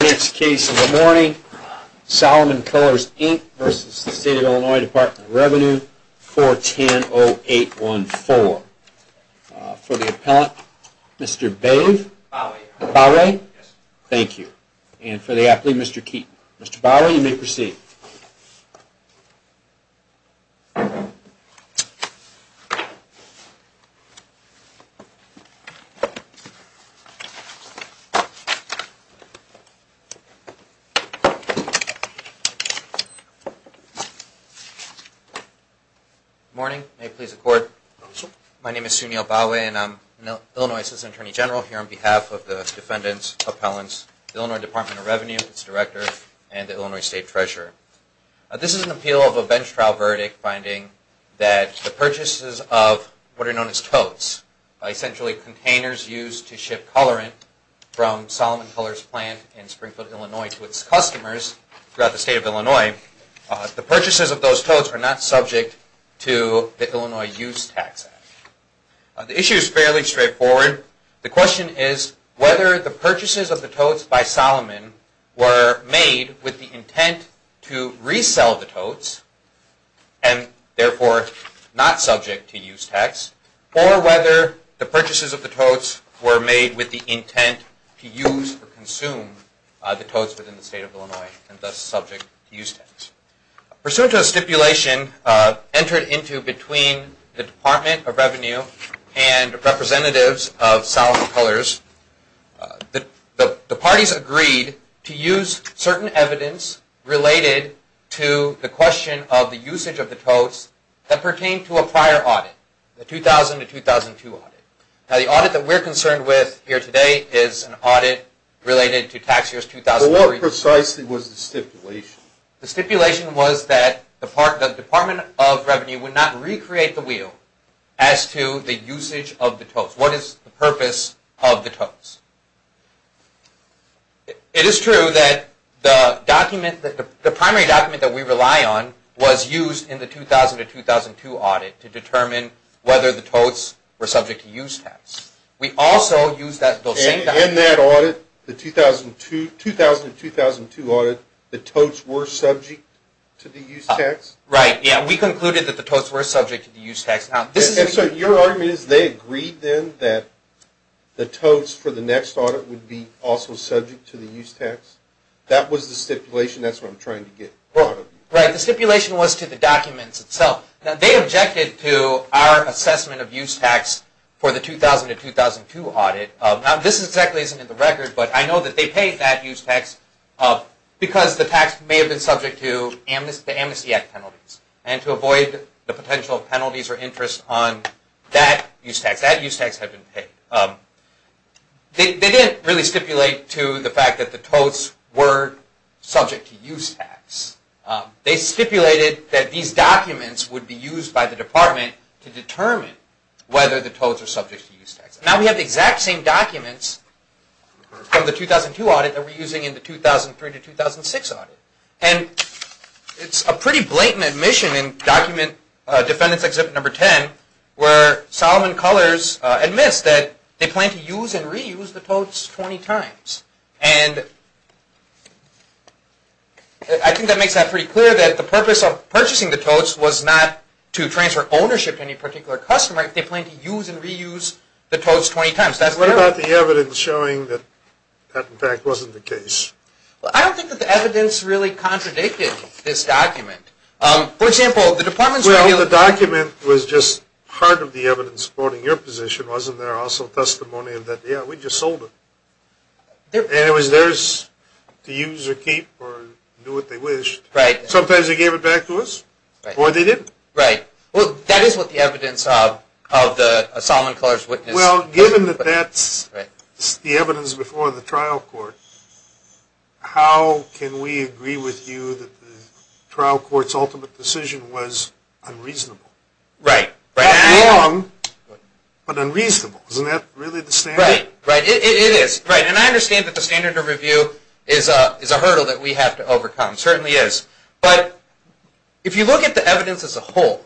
Next case of the morning, Solomon Colors, Inc. v. State of Illinois Department of Revenue, 410-0814. For the appellant, Mr. Bowery, thank you. And for the athlete, Mr. Keaton. Mr. Bowery, you may proceed. Good morning. May it please the Court. My name is Sunil Bowery, and I'm Illinois Assistant Attorney General here on behalf of the defendants, appellants, Illinois Department of Revenue, its director, and the Illinois State Treasurer. This is an appeal of a bench trial verdict finding that the purchases of what are known as totes, essentially containers used to ship colorant from Solomon Colors plant in Springfield, Illinois, to its customers throughout the State of Illinois, the purchases of those totes are not subject to the Illinois Use Tax Act. The issue is fairly straightforward. The question is whether the purchases of the totes by Solomon were made with the intent to resell the totes, and therefore not subject to use tax, or whether the purchases of the totes were made with the intent to use or consume the totes within the State of Illinois, and thus subject to use tax. Pursuant to a stipulation entered into between the Department of Revenue and representatives of Solomon Colors, the parties agreed to use certain evidence related to the question of the usage of the totes that pertained to a prior audit, the 2000-2002 audit. Now the audit that we're concerned with here today is an audit related to tax years 2003. Well what precisely was the stipulation? The stipulation was that the Department of Revenue would not recreate the wheel as to the usage of the totes. What is the purpose of the totes? It is true that the primary document that we rely on was used in the 2000-2002 audit to determine whether the totes were subject to use tax. In that audit, the 2000-2002 audit, the totes were subject to the use tax? Right, yeah, we concluded that the totes were subject to the use tax. And so your argument is they agreed then that the totes for the next audit would be also subject to the use tax? That was the stipulation, that's what I'm trying to get out of you. Right, the stipulation was to the documents itself. They objected to our assessment of use tax for the 2000-2002 audit. Now this exactly isn't in the record, but I know that they paid that use tax because the tax may have been subject to the Amnesty Act penalties, and to avoid the potential penalties or interest on that use tax. That use tax had been paid. They didn't really stipulate to the fact that the totes were subject to use tax. They stipulated that these documents would be used by the department to determine whether the totes were subject to use tax. Now we have the exact same documents from the 2002 audit that we're using in the 2003-2006 audit. And it's a pretty blatant admission in Defendant's Exhibit No. 10 where Solomon Cullors admits that they plan to use and reuse the totes 20 times. And I think that makes that pretty clear that the purpose of purchasing the totes was not to transfer ownership to any particular customer. They plan to use and reuse the totes 20 times. What about the evidence showing that that in fact wasn't the case? I don't think that the evidence really contradicted this document. Well, the document was just part of the evidence supporting your position, wasn't there? Also testimony that, yeah, we just sold them. And it was theirs to use or keep or do what they wished. Sometimes they gave it back to us, or they didn't. Right. Well, that is what the evidence of the Solomon Cullors witness... Well, given that that's the evidence before the trial court, how can we agree with you that the trial court's ultimate decision was unreasonable? Right. Not wrong, but unreasonable. Isn't that really the standard? Right. It is. And I understand that the standard of review is a hurdle that we have to overcome. It certainly is. But if you look at the evidence as a whole,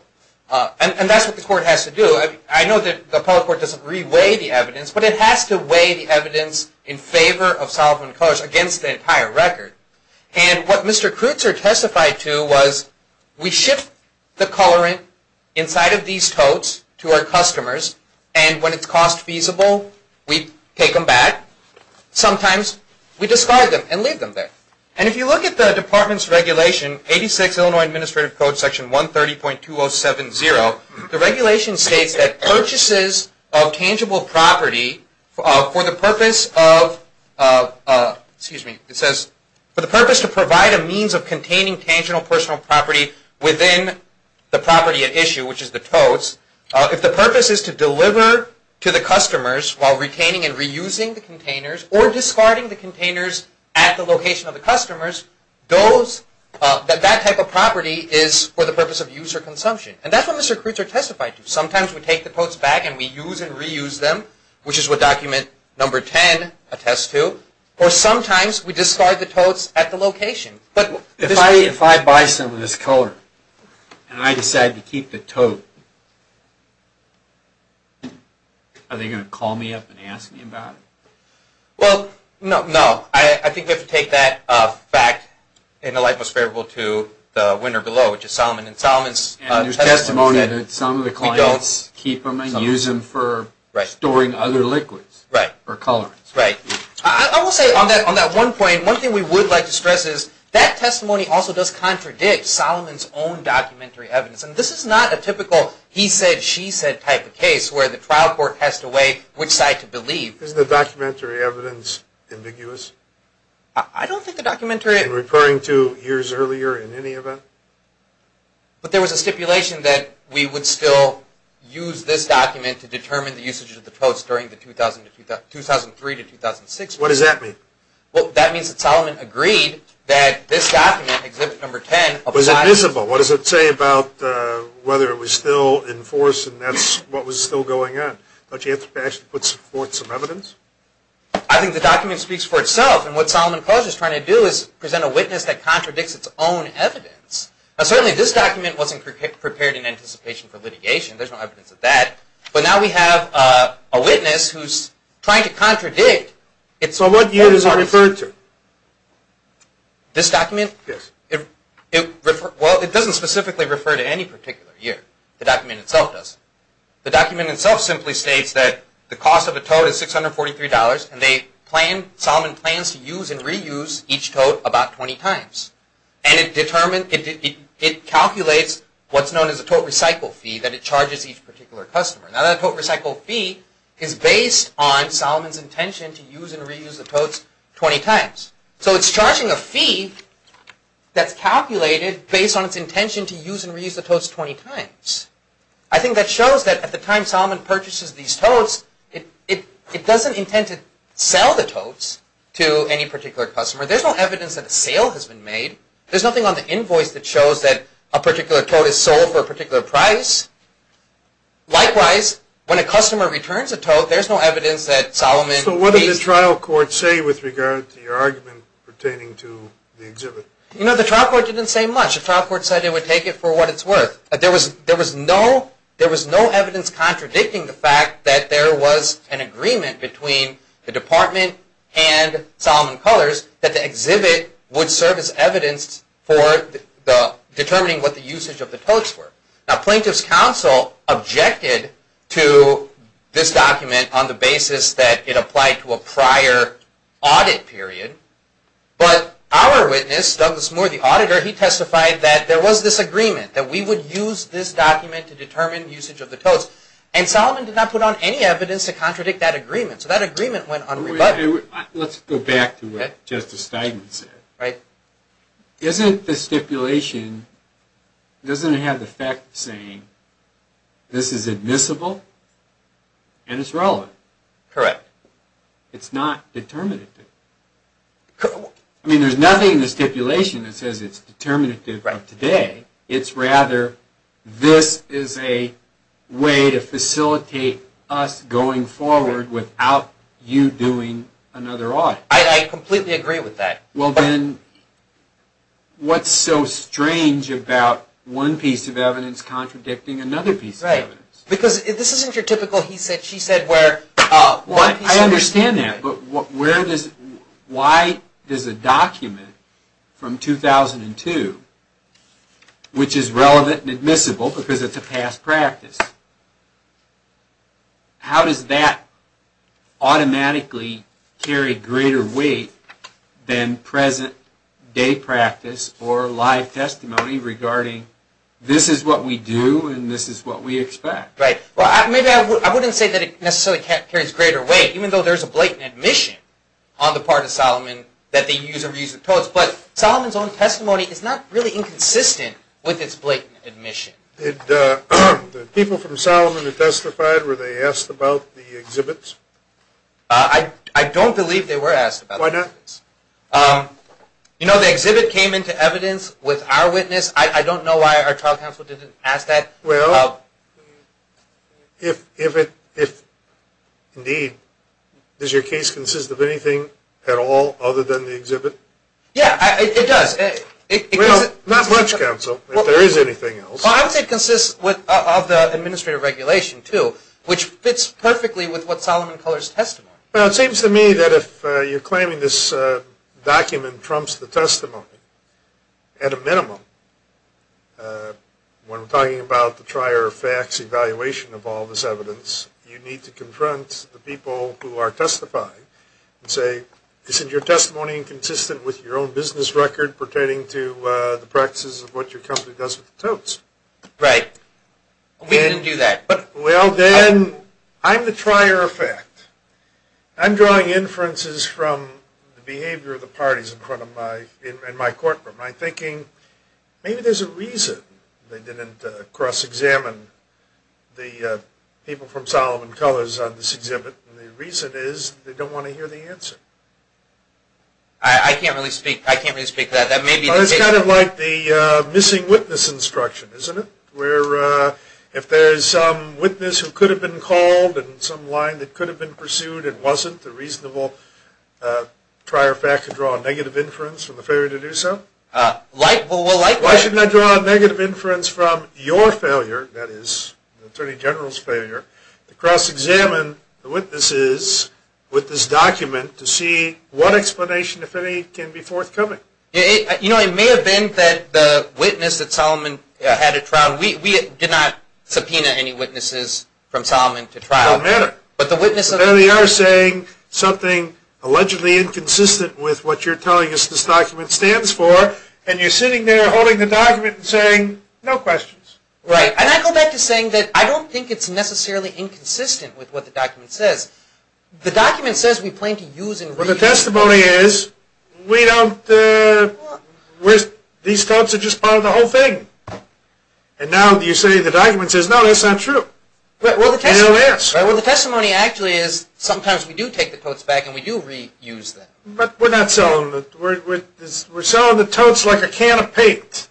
and that's what the court has to do. I know that the appellate court doesn't re-weigh the evidence, but it has to weigh the evidence in favor of Solomon Cullors against the entire record. And what Mr. Kreutzer testified to was, we ship the colorant inside of these totes to our customers, and when it's cost feasible, we take them back. Sometimes we discard them and leave them there. And if you look at the department's regulation, 86 Illinois Administrative Code Section 130.2070, the regulation states that purchases of tangible property for the purpose of, excuse me, it says, for the purpose to provide a means of containing tangible personal property within the property at issue, which is the totes, if the purpose is to deliver to the customers while retaining and reusing the containers, or discarding the containers at the location of the customers, that type of property is for the purpose of use or consumption. And that's what Mr. Kreutzer testified to. Sometimes we take the totes back and we use and reuse them, which is what document number 10 attests to, or sometimes we discard the totes at the location. But if I buy some of this color and I decide to keep the tote, are they going to call me up and ask me about it? Well, no. I think we have to take that back in the light most favorable to the winner below, which is Solomon. And there's testimony that some of the clients keep them and use them for storing other liquids or colorants. Right. I will say on that one point, one thing we would like to stress is that testimony also does contradict Solomon's own documentary evidence. And this is not a typical he said, she said type of case where the trial court has to weigh which side to believe. Isn't the documentary evidence ambiguous? I don't think the documentary… In referring to years earlier in any event? But there was a stipulation that we would still use this document to determine the usage of the totes during the 2003 to 2006. What does that mean? Well, that means that Solomon agreed that this document, Exhibit Number 10… Was it visible? What does it say about whether it was still in force and that's what was still going on? Don't you have to actually put forth some evidence? I think the document speaks for itself. And what Solomon College is trying to do is present a witness that contradicts its own evidence. Now certainly this document wasn't prepared in anticipation for litigation. There's no evidence of that. But now we have a witness who's trying to contradict… So what year is it referred to? This document? Yes. Well, it doesn't specifically refer to any particular year. The document itself doesn't. The document itself simply states that the cost of a tote is $643 and Solomon plans to use and reuse each tote about 20 times. And it calculates what's known as a tote recycle fee that it charges each particular customer. Now that tote recycle fee is based on Solomon's intention to use and reuse the totes 20 times. So it's charging a fee that's calculated based on its intention to use and reuse the totes 20 times. I think that shows that at the time Solomon purchases these totes, it doesn't intend to sell the totes to any particular customer. There's no evidence that a sale has been made. There's nothing on the invoice that shows that a particular tote is sold for a particular price. Likewise, when a customer returns a tote, there's no evidence that Solomon… So what did the trial court say with regard to your argument pertaining to the exhibit? You know, the trial court didn't say much. The trial court said it would take it for what it's worth. There was no evidence contradicting the fact that there was an agreement between the department and Solomon Colors that the exhibit would serve as evidence for determining what the usage of the totes were. Now plaintiff's counsel objected to this document on the basis that it applied to a prior audit period. But our witness, Douglas Moore, the auditor, he testified that there was this agreement that we would use this document to determine usage of the totes. And Solomon did not put on any evidence to contradict that agreement. So that agreement went unrebutted. Let's go back to what Justice Steigman said. Right. Isn't the stipulation… doesn't it have the effect of saying this is admissible and it's relevant? Correct. It's not determinative. I mean, there's nothing in the stipulation that says it's determinative of today. It's rather, this is a way to facilitate us going forward without you doing another audit. I completely agree with that. Well then, what's so strange about one piece of evidence contradicting another piece of evidence? Because this isn't your typical, he said, she said, where… I understand that, but where does… why does a document from 2002, which is relevant and admissible because it's a past practice, how does that automatically carry greater weight than present day practice or live testimony regarding this is what we do and this is what we expect? Right. Well, maybe I wouldn't say that it necessarily carries greater weight, even though there's a blatant admission on the part of Solomon that they use or reuse the totes, but Solomon's own testimony is not really inconsistent with its blatant admission. The people from Solomon that testified, were they asked about the exhibits? I don't believe they were asked about the exhibits. Why not? You know, the exhibit came into evidence with our witness. I don't know why our trial counsel didn't ask that. Well, if, indeed, does your case consist of anything at all other than the exhibit? Yeah, it does. Well, not much, counsel, if there is anything else. Well, I would say it consists of the administrative regulation, too, which fits perfectly with what Solomon Culler's testimony. Well, it seems to me that if you're claiming this document trumps the testimony at a minimum, when we're talking about the trier of facts evaluation of all this evidence, you need to confront the people who are testifying and say, isn't your testimony inconsistent with your own business record pertaining to the practices of what your company does with the totes? Right. We didn't do that. Well, then, I'm the trier of fact. I'm drawing inferences from the behavior of the parties in front of my, in my courtroom. I'm thinking maybe there's a reason they didn't cross-examine the people from Solomon Culler's on this exhibit, and the reason is they don't want to hear the answer. I can't really speak to that. That may be the case. Well, it's kind of like the missing witness instruction, isn't it, where if there is some witness who could have been called and some line that could have been pursued and wasn't, the reasonable trier of fact could draw a negative inference from the failure to do so? Like, well, like what? Why shouldn't I draw a negative inference from your failure, that is, the Attorney General's failure, to cross-examine the witnesses with this document to see what explanation, if any, can be forthcoming? You know, it may have been that the witness at Solomon had a trial. We did not subpoena any witnesses from Solomon to trial. It doesn't matter. But there they are saying something allegedly inconsistent with what you're telling us this document stands for, and you're sitting there holding the document and saying, no questions. Right. And I go back to saying that I don't think it's necessarily inconsistent with what the document says. The document says we plan to use and read. Well, the testimony is we don't. These folks are just part of the whole thing. And now you say the document says, no, that's not true. Well, the testimony actually is sometimes we do take the totes back and we do reuse them. But we're not selling them. We're selling the totes like a can of paint.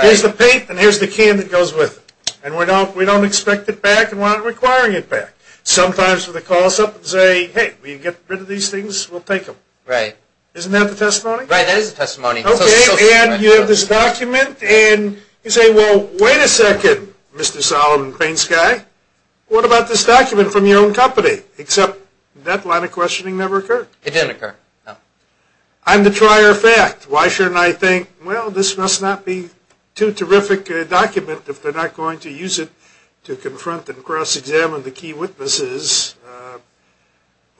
Here's the paint and here's the can that goes with it. And we don't expect it back and we're not requiring it back. Sometimes when they call us up and say, hey, will you get rid of these things, we'll take them. Right. Isn't that the testimony? Right, that is the testimony. Okay, and you have this document, and you say, well, wait a second, Mr. Solomon Painsky. What about this document from your own company? Except that line of questioning never occurred. It didn't occur, no. I'm the trier of fact. Why shouldn't I think, well, this must not be too terrific a document if they're not going to use it to confront and cross-examine the key witnesses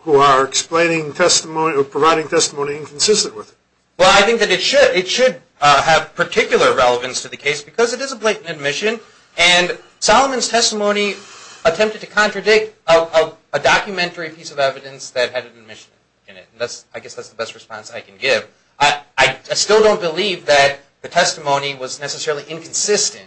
who are explaining testimony or providing testimony inconsistent with it? Well, I think that it should have particular relevance to the case because it is a blatant admission. And Solomon's testimony attempted to contradict a documentary piece of evidence that had an admission in it. I guess that's the best response I can give. I still don't believe that the testimony was necessarily inconsistent.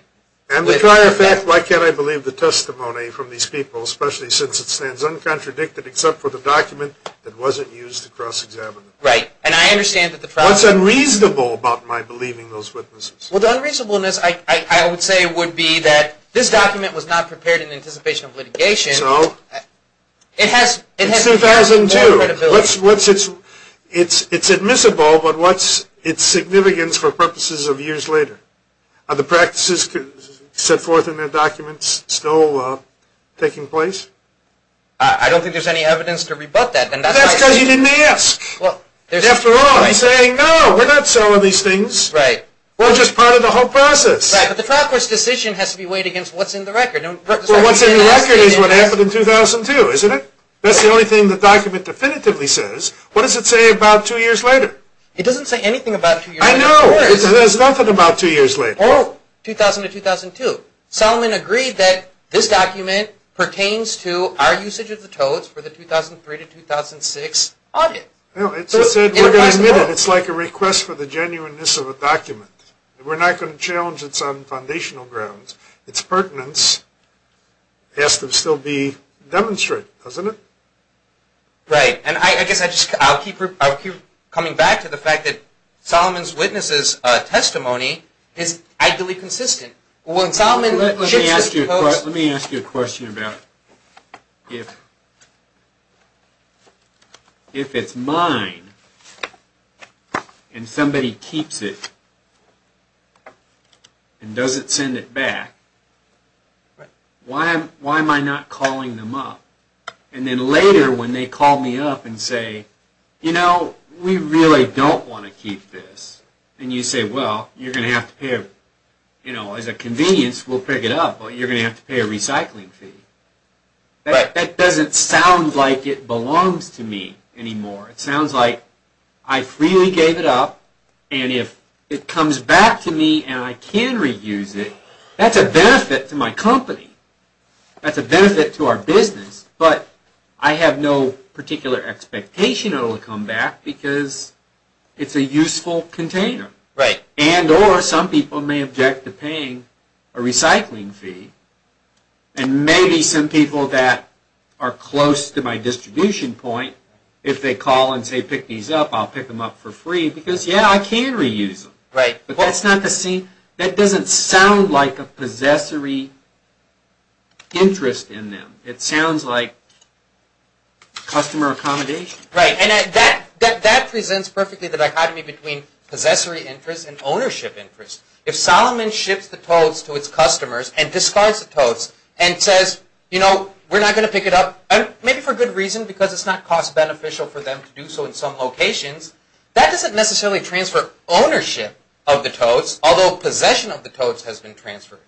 I'm the trier of fact. Why can't I believe the testimony from these people, especially since it stands uncontradicted except for the document that wasn't used to cross-examine it? What's unreasonable about my believing those witnesses? Well, the unreasonableness, I would say, would be that this document was not prepared in anticipation of litigation. So? It has more credibility. It's admissible, but what's its significance for purposes of years later? Are the practices set forth in the documents still taking place? I don't think there's any evidence to rebut that. That's because you didn't ask. After all, he's saying, no, we're not selling these things. We're just part of the whole process. Right, but the trial court's decision has to be weighed against what's in the record. Well, what's in the record is what happened in 2002, isn't it? That's the only thing the document definitively says. What does it say about two years later? It doesn't say anything about two years later. I know. It says nothing about two years later. Oh, 2000 to 2002. Solomon agreed that this document pertains to our usage of the totes for the 2003 to 2006 audit. It's like a request for the genuineness of a document. We're not going to challenge it on foundational grounds. Its pertinence has to still be demonstrated, doesn't it? Right, and I guess I'll keep coming back to the fact that Solomon's witness' testimony is ideally consistent. Let me ask you a question about if it's mine and somebody keeps it and doesn't send it back, why am I not calling them up? And then later when they call me up and say, you know, we really don't want to keep this, and you say, well, you're going to have to pay, you know, as a convenience, we'll pick it up, but you're going to have to pay a recycling fee. That doesn't sound like it belongs to me anymore. It sounds like I freely gave it up, and if it comes back to me and I can reuse it, that's a benefit to my company. That's a benefit to our business. But I have no particular expectation it will come back because it's a useful container. Right. And or some people may object to paying a recycling fee, and maybe some people that are close to my distribution point, if they call and say pick these up, I'll pick them up for free because, yeah, I can reuse them. Right. But that doesn't sound like a possessory interest in them. It sounds like customer accommodation. Right, and that presents perfectly the dichotomy between possessory interest and ownership interest. If Salomon ships the totes to its customers and discards the totes and says, you know, we're not going to pick it up, maybe for good reason because it's not cost beneficial for them to do so in some locations, that doesn't necessarily transfer ownership of the totes, although possession of the totes has been transferred.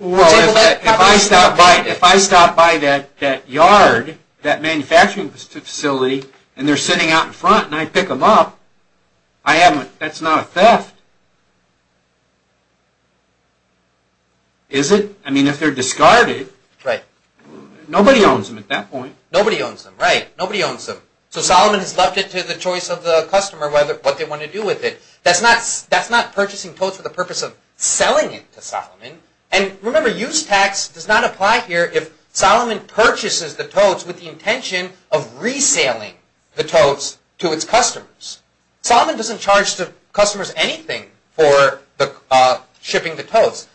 Well, if I stop by that yard, that manufacturing facility, and they're sitting out in front and I pick them up, that's not a theft, is it? I mean, if they're discarded, nobody owns them at that point. Nobody owns them, right. Nobody owns them. So Salomon has left it to the choice of the customer what they want to do with it. That's not purchasing totes for the purpose of selling it to Salomon. And remember, use tax does not apply here if Salomon purchases the totes with the intention of resaling the totes to its customers. Salomon doesn't charge the customers anything for shipping the totes.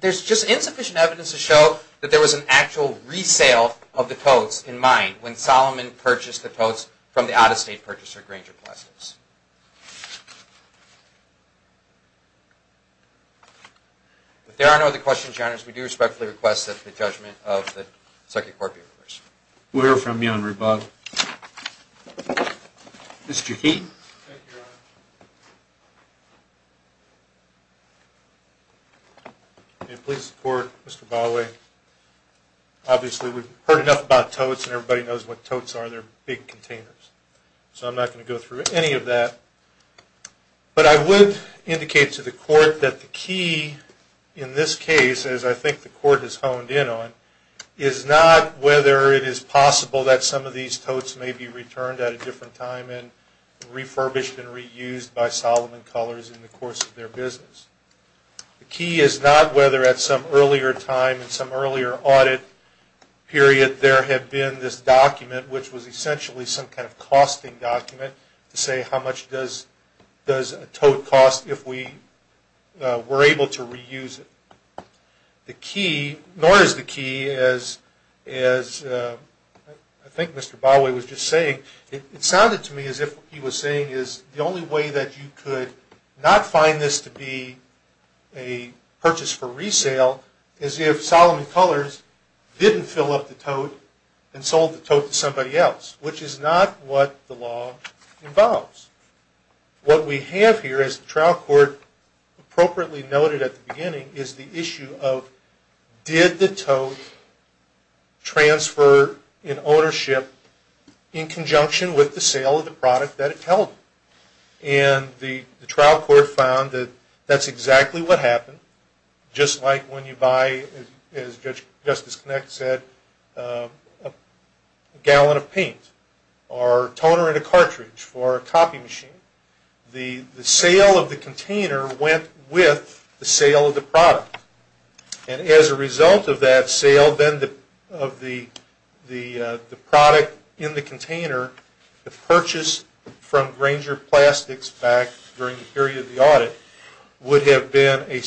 There's just insufficient evidence to show that there was an actual resale of the totes in mind when Salomon purchased the totes from the out-of-state purchaser, Granger Plastics. If there are no other questions, Your Honor, we do respectfully request that the judgment of the circuit court be reversed. We'll hear from you, Honorable Bob. Mr. Keeton. Thank you, Your Honor. May it please the Court, Mr. Bawe, Obviously we've heard enough about totes and everybody knows what totes are. They're big containers. So I'm not going to go through any of that. But I would indicate to the Court that the key in this case, as I think the Court has honed in on, is not whether it is possible that some of these totes may be returned at a different time and refurbished and reused by Salomon Colors in the course of their business. The key is not whether at some earlier time, some earlier audit period, there had been this document which was essentially some kind of costing document to say how much does a tote cost if we were able to reuse it. The key, nor is the key, as I think Mr. Bawe was just saying, it sounded to me as if he was saying is the only way that you could not find this to be a purchase for resale is if Salomon Colors didn't fill up the tote and sold the tote to somebody else, which is not what the law involves. What we have here, as the trial court appropriately noted at the beginning, is the issue of did the tote transfer in ownership in conjunction with the sale of the product that it held? And the trial court found that that's exactly what happened. Just like when you buy, as Justice Knecht said, a gallon of paint or toner in a cartridge for a copy machine, the sale of the container went with the sale of the product. And as a result of that sale of the product in the container, the purchase from Grainger Plastics back during the period of the audit would have been a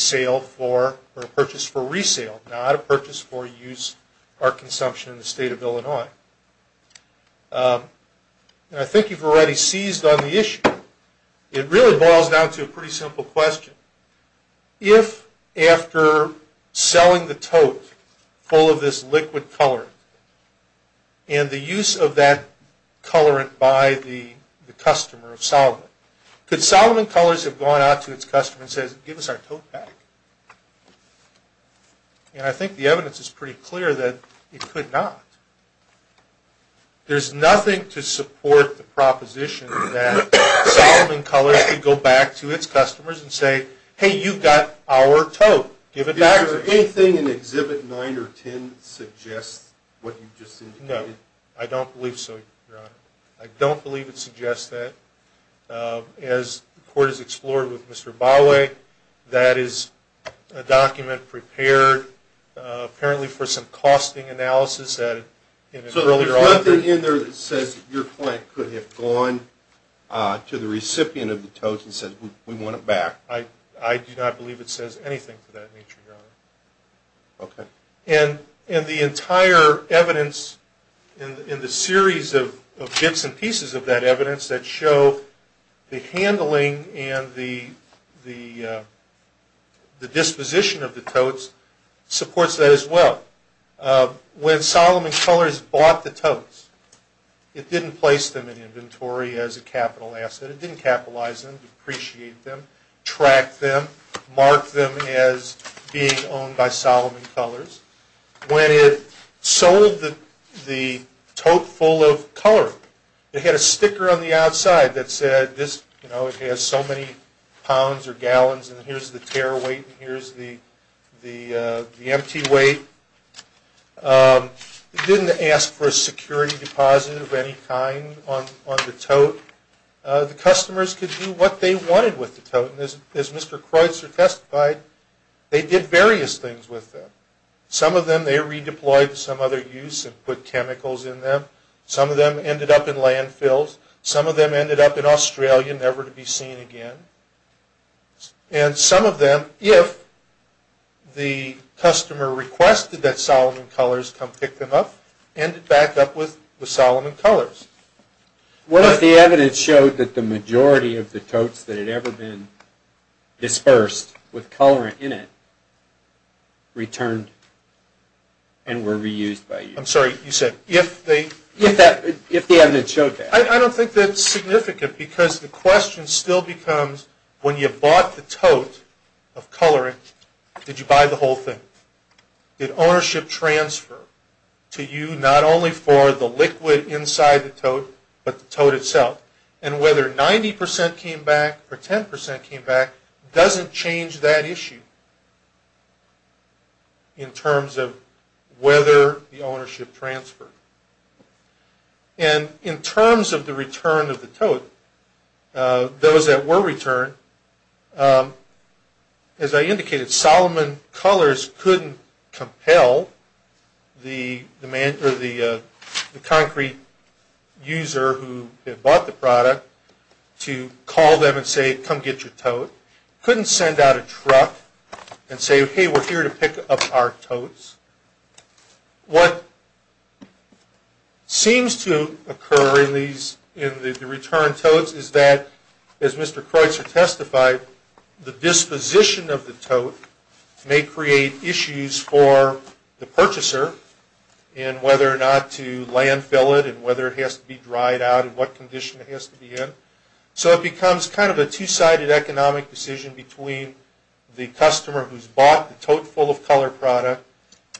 purchase for resale, not a purchase for use or consumption in the state of Illinois. And I think you've already seized on the issue. It really boils down to a pretty simple question. If after selling the tote full of this liquid colorant and the use of that colorant by the customer of Salomon, could Salomon Colors have gone out to its customer and said, give us our tote back? And I think the evidence is pretty clear that it could not. There's nothing to support the proposition that Salomon Colors could go back to its customers and say, hey, you've got our tote, give it back to us. Did anything in Exhibit 9 or 10 suggest what you just indicated? No, I don't believe so, Your Honor. I don't believe it suggests that. As the Court has explored with Mr. Bawe, that is a document prepared apparently for some costing analysis. So there's nothing in there that says your client could have gone to the recipient of the tote and said, we want it back? I do not believe it says anything of that nature, Your Honor. And the entire evidence in the series of bits and pieces of that evidence that show the handling and the disposition of the totes supports that as well. When Salomon Colors bought the totes, it didn't place them in inventory as a capital asset. It didn't capitalize them, depreciate them, track them, mark them as being owned by Salomon Colors. When it sold the tote full of color, it had a sticker on the outside that said, this has so many pounds or gallons and here's the tare weight and here's the empty weight. It didn't ask for a security deposit of any kind on the tote. The customers could do what they wanted with the tote. And as Mr. Kreutzer testified, they did various things with them. Some of them they redeployed to some other use and put chemicals in them. Some of them ended up in landfills. Some of them ended up in Australia, never to be seen again. And some of them, if the customer requested that Salomon Colors come pick them up, ended back up with Salomon Colors. What if the evidence showed that the majority of the totes that had ever been dispersed with colorant in it returned and were reused by you? I'm sorry, you said, if they... If the evidence showed that. I don't think that's significant because the question still becomes, when you bought the tote of colorant, did you buy the whole thing? Did ownership transfer to you not only for the liquid inside the tote but the tote itself? And whether 90% came back or 10% came back doesn't change that issue in terms of whether the ownership transferred. And in terms of the return of the tote, those that were returned, as I indicated, Salomon Colors couldn't compel the concrete user who had bought the product to call them and say, come get your tote. Couldn't send out a truck and say, hey, we're here to pick up our totes. What seems to occur in the return totes is that, as Mr. Kreutzer testified, the disposition of the tote may create issues for the purchaser in whether or not to landfill it and whether it has to be dried out and what condition it has to be in. So it becomes kind of a two-sided economic decision between the customer who's bought the tote full of color product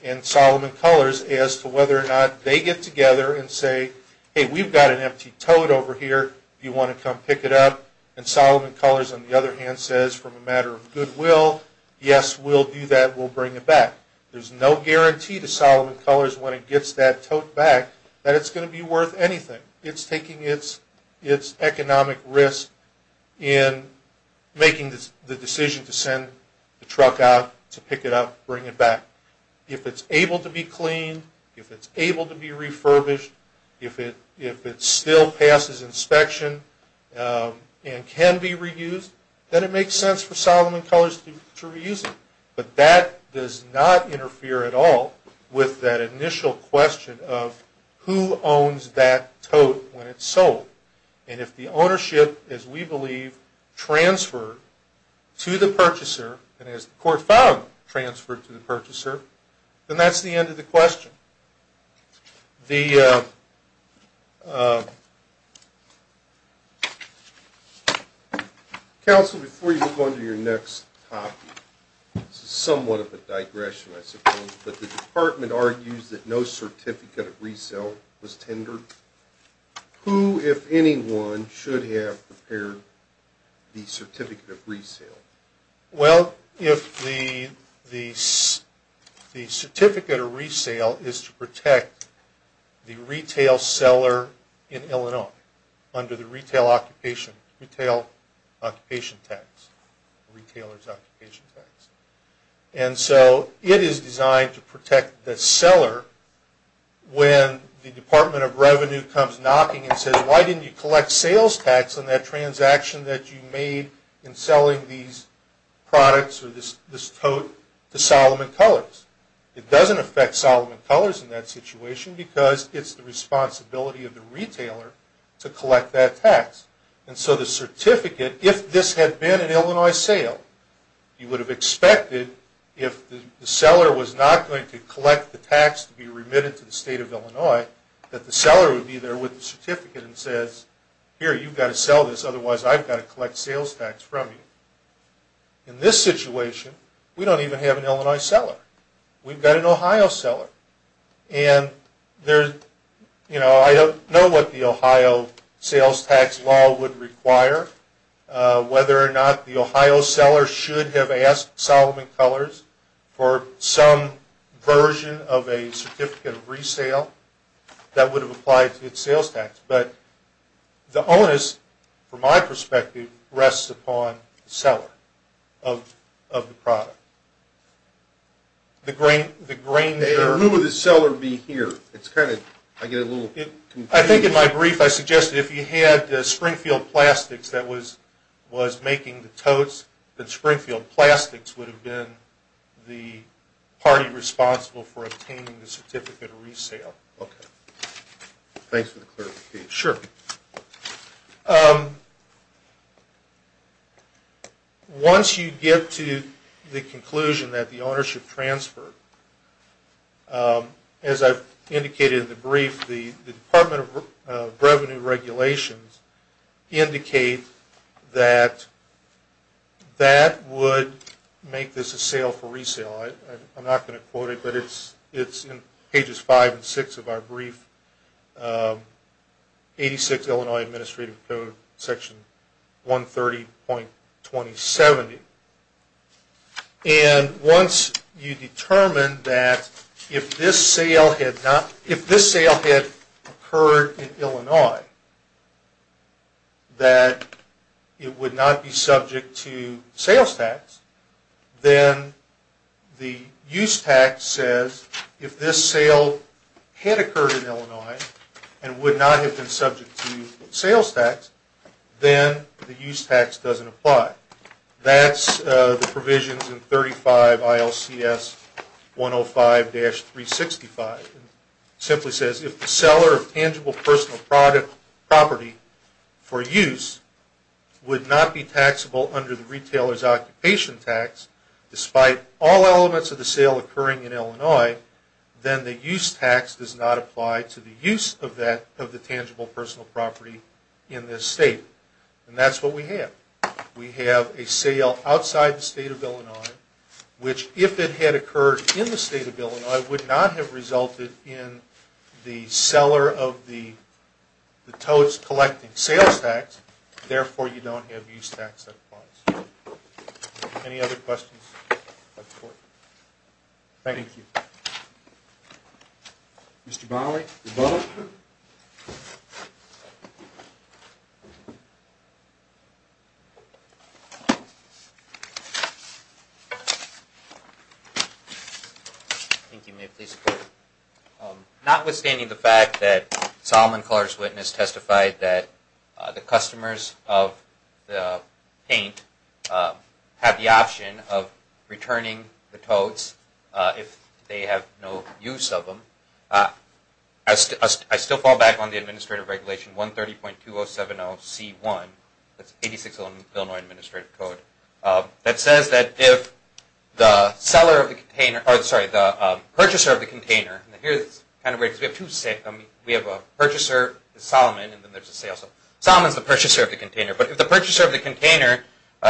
and Salomon Colors as to whether or not they get together and say, hey, we've got an empty tote over here. Do you want to come pick it up? And Salomon Colors, on the other hand, says, from a matter of goodwill, yes, we'll do that. We'll bring it back. There's no guarantee to Salomon Colors when it gets that tote back that it's going to be worth anything. It's taking its economic risk in making the decision to send the truck out, to pick it up, bring it back. If it's able to be cleaned, if it's able to be refurbished, if it still passes inspection and can be reused, then it makes sense for Salomon Colors to reuse it. But that does not interfere at all with that initial question of who owns that tote when it's sold. And if the ownership, as we believe, transferred to the purchaser, and as the court found, transferred to the purchaser, then that's the end of the question. The... Counsel, before you move on to your next topic, this is somewhat of a digression, I suppose, but the department argues that no certificate of resale was tendered. Who, if anyone, should have prepared the certificate of resale? Well, if the certificate of resale is to protect the retail seller in Illinois under the retail occupation tax, the retailer's occupation tax, and so it is designed to protect the seller when the Department of Revenue comes knocking and says, why didn't you collect sales tax on that transaction that you made in selling these products or this tote to Salomon Colors? It doesn't affect Salomon Colors in that situation because it's the responsibility of the retailer to collect that tax. And so the certificate, if this had been an Illinois sale, you would have expected, if the seller was not going to collect the tax to be remitted to the State of Illinois, that the seller would be there with the certificate and says, here, you've got to sell this, otherwise I've got to collect sales tax from you. In this situation, we don't even have an Illinois seller. We've got an Ohio seller. And there's, you know, I don't know what the Ohio sales tax law would require, whether or not the Ohio seller should have asked Salomon Colors for some version of a certificate of resale that would have applied to its sales tax. But the onus, from my perspective, rests upon the seller of the product. The grain there... Who would the seller be here? I think in my brief I suggested if you had Springfield Plastics that was making the totes, that Springfield Plastics would have been the party responsible for obtaining the certificate of resale. Okay. Thanks for the clarification. Sure. Once you get to the conclusion that the ownership transferred, as I've indicated in the brief, the Department of Revenue regulations indicate that that would make this a sale for resale. I'm not going to quote it, but it's in pages 5 and 6 of our brief, 86 Illinois Administrative Code, Section 130.2070. And once you determine that if this sale had occurred in Illinois, that it would not be subject to sales tax, then the use tax says if this sale had occurred in Illinois and would not have been subject to sales tax, then the use tax doesn't apply. That's the provisions in 35 ILCS 105-365. It simply says if the seller of tangible personal property for use would not be taxable under the retailer's occupation tax, despite all elements of the sale occurring in Illinois, then the use tax does not apply to the use of the tangible personal property in this state. And that's what we have. We have a sale outside the state of Illinois, which if it had occurred in the state of Illinois, would not have resulted in the seller of the totes collecting sales tax. Therefore, you don't have use tax that applies. Any other questions? Thank you. Mr. Bonnelly. Thank you. May it please the Court. Notwithstanding the fact that Solomon Clarke's witness testified that the customers of the paint have the option of returning the totes if they have no use of them, I still fall back on the Administrative Regulation 130.2070C1, that's 86 Illinois Administrative Code, that says that if the seller of the container, or sorry, the purchaser of the container, and here's kind of weird because we have two sales, we have a purchaser, Solomon, and then there's a sales. Solomon's the purchaser of the container, but if the purchaser of the container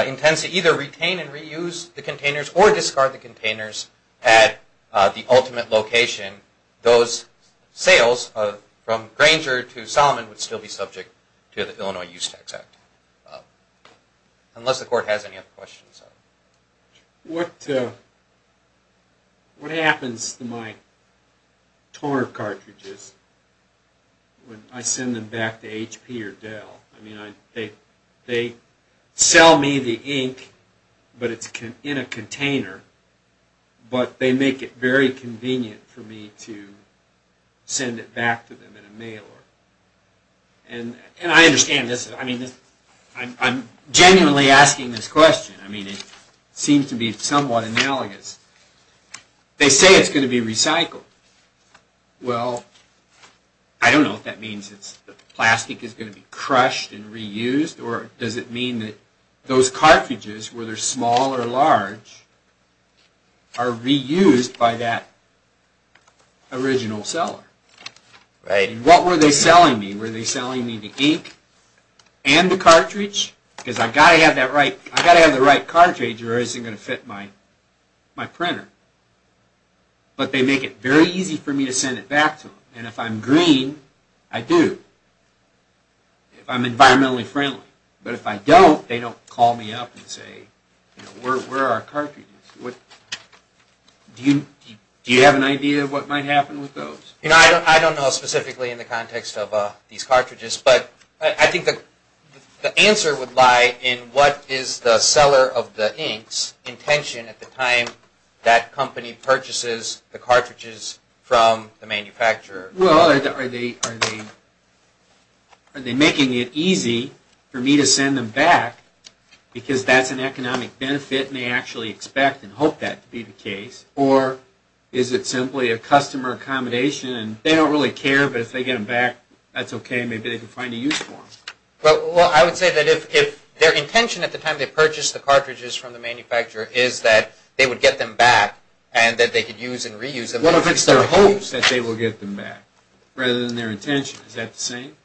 intends to either retain and reuse the containers or discard the containers at the ultimate location, those sales from Granger to Solomon would still be subject to the Illinois Use Tax Act. Unless the Court has any other questions. What happens to my TOR cartridges when I send them back to HP or Dell? I mean, they sell me the ink, but it's in a container, but they make it very convenient for me to send it back to them in a mail order. And I understand this. I mean, I'm genuinely asking this question. I mean, it seems to be somewhat analogous. They say it's going to be recycled. Well, I don't know what that means. The plastic is going to be crushed and reused, or does it mean that those cartridges, whether small or large, are reused by that original seller? What were they selling me? Were they selling me the ink and the cartridge? Because I've got to have the right cartridge or it isn't going to fit my printer. But they make it very easy for me to send it back to them. And if I'm green, I do. If I'm environmentally friendly. But if I don't, they don't call me up and say, you know, where are our cartridges? Do you have an idea of what might happen with those? You know, I don't know specifically in the context of these cartridges, but I think the answer would lie in what is the seller of the inks' intention at the time that company purchases the cartridges from the manufacturer? Well, are they making it easy for me to send them back because that's an economic benefit and they actually expect and hope that to be the case? Or is it simply a customer accommodation and they don't really care, but if they get them back, that's okay. Maybe they can find a use for them. Well, I would say that if their intention at the time they purchase the cartridges from the manufacturer is that they would get them back and that they could use and reuse them. What if it's their hopes that they will get them back rather than their intention? Is that the same?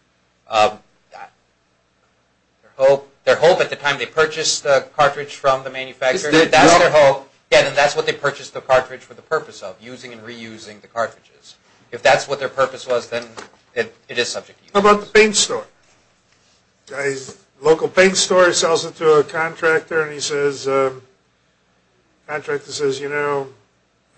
Their hope at the time they purchase the cartridge from the manufacturer, if that's their hope, then that's what they purchased the cartridge for the purpose of, using and reusing the cartridges. If that's what their purpose was, then it is subject to use. How about the paint store? A local paint store sells it to a contractor and the contractor says, you know,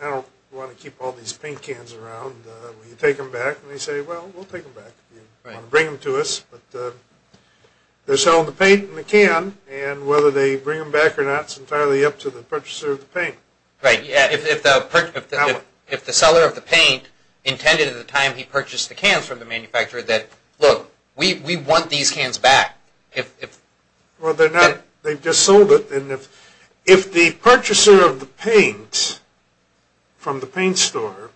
I don't want to keep all these paint cans around. Will you take them back? And they say, well, we'll take them back if you want to bring them to us. But they're selling the paint and the can and whether they bring them back or not is entirely up to the purchaser of the paint. Right. If the seller of the paint intended at the time he purchased the cans from the manufacturer that, look, we want these cans back. Well, they've just sold it. If the purchaser of the paint from the paint store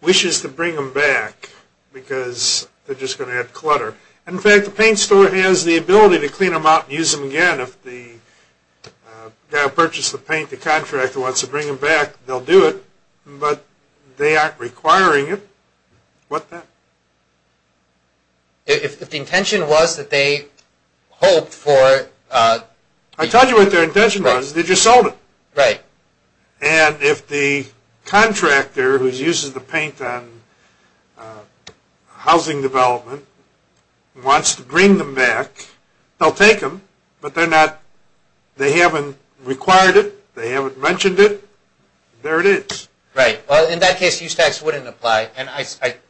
wishes to bring them back because they're just going to add clutter. In fact, the paint store has the ability to clean them out and use them again. If the guy who purchased the paint, the contractor, wants to bring them back, they'll do it, but they aren't requiring it. What's that? If the intention was that they hoped for... I told you what their intention was. They just sold it. Right. And if the contractor who uses the paint on housing development wants to bring them back, they'll take them, but they haven't required it. They haven't mentioned it. There it is. Right. Well, in that case, use tax wouldn't apply. And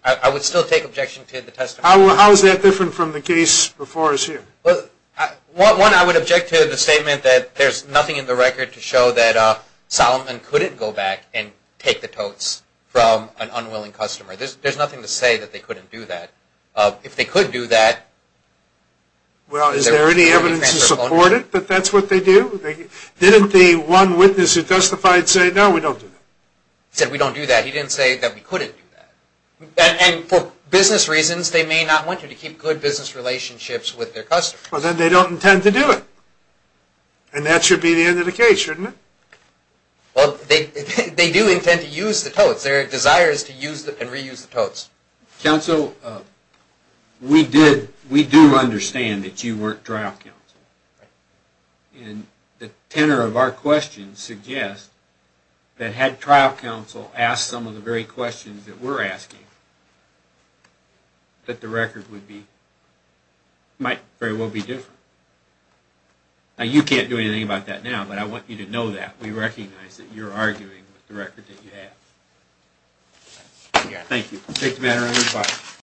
I would still take objection to the testimony. How is that different from the case before us here? One, I would object to the statement that there's nothing in the record to show that Solomon couldn't go back and take the totes from an unwilling customer. There's nothing to say that they couldn't do that. If they could do that... Well, is there any evidence to support it that that's what they do? Didn't the one witness who testified say, no, we don't do that? He said, we don't do that. He didn't say that we couldn't do that. And for business reasons, they may not want you to keep good business relationships with their customers. Well, then they don't intend to do it. And that should be the end of the case, shouldn't it? Well, they do intend to use the totes. Their desire is to use and reuse the totes. Counsel, we do understand that you weren't trial counsel. Right. That had trial counsel asked some of the very questions that we're asking, that the record would be... might very well be different. Now, you can't do anything about that now, but I want you to know that. We recognize that you're arguing with the record that you have. Thank you. Take the matter under your fire.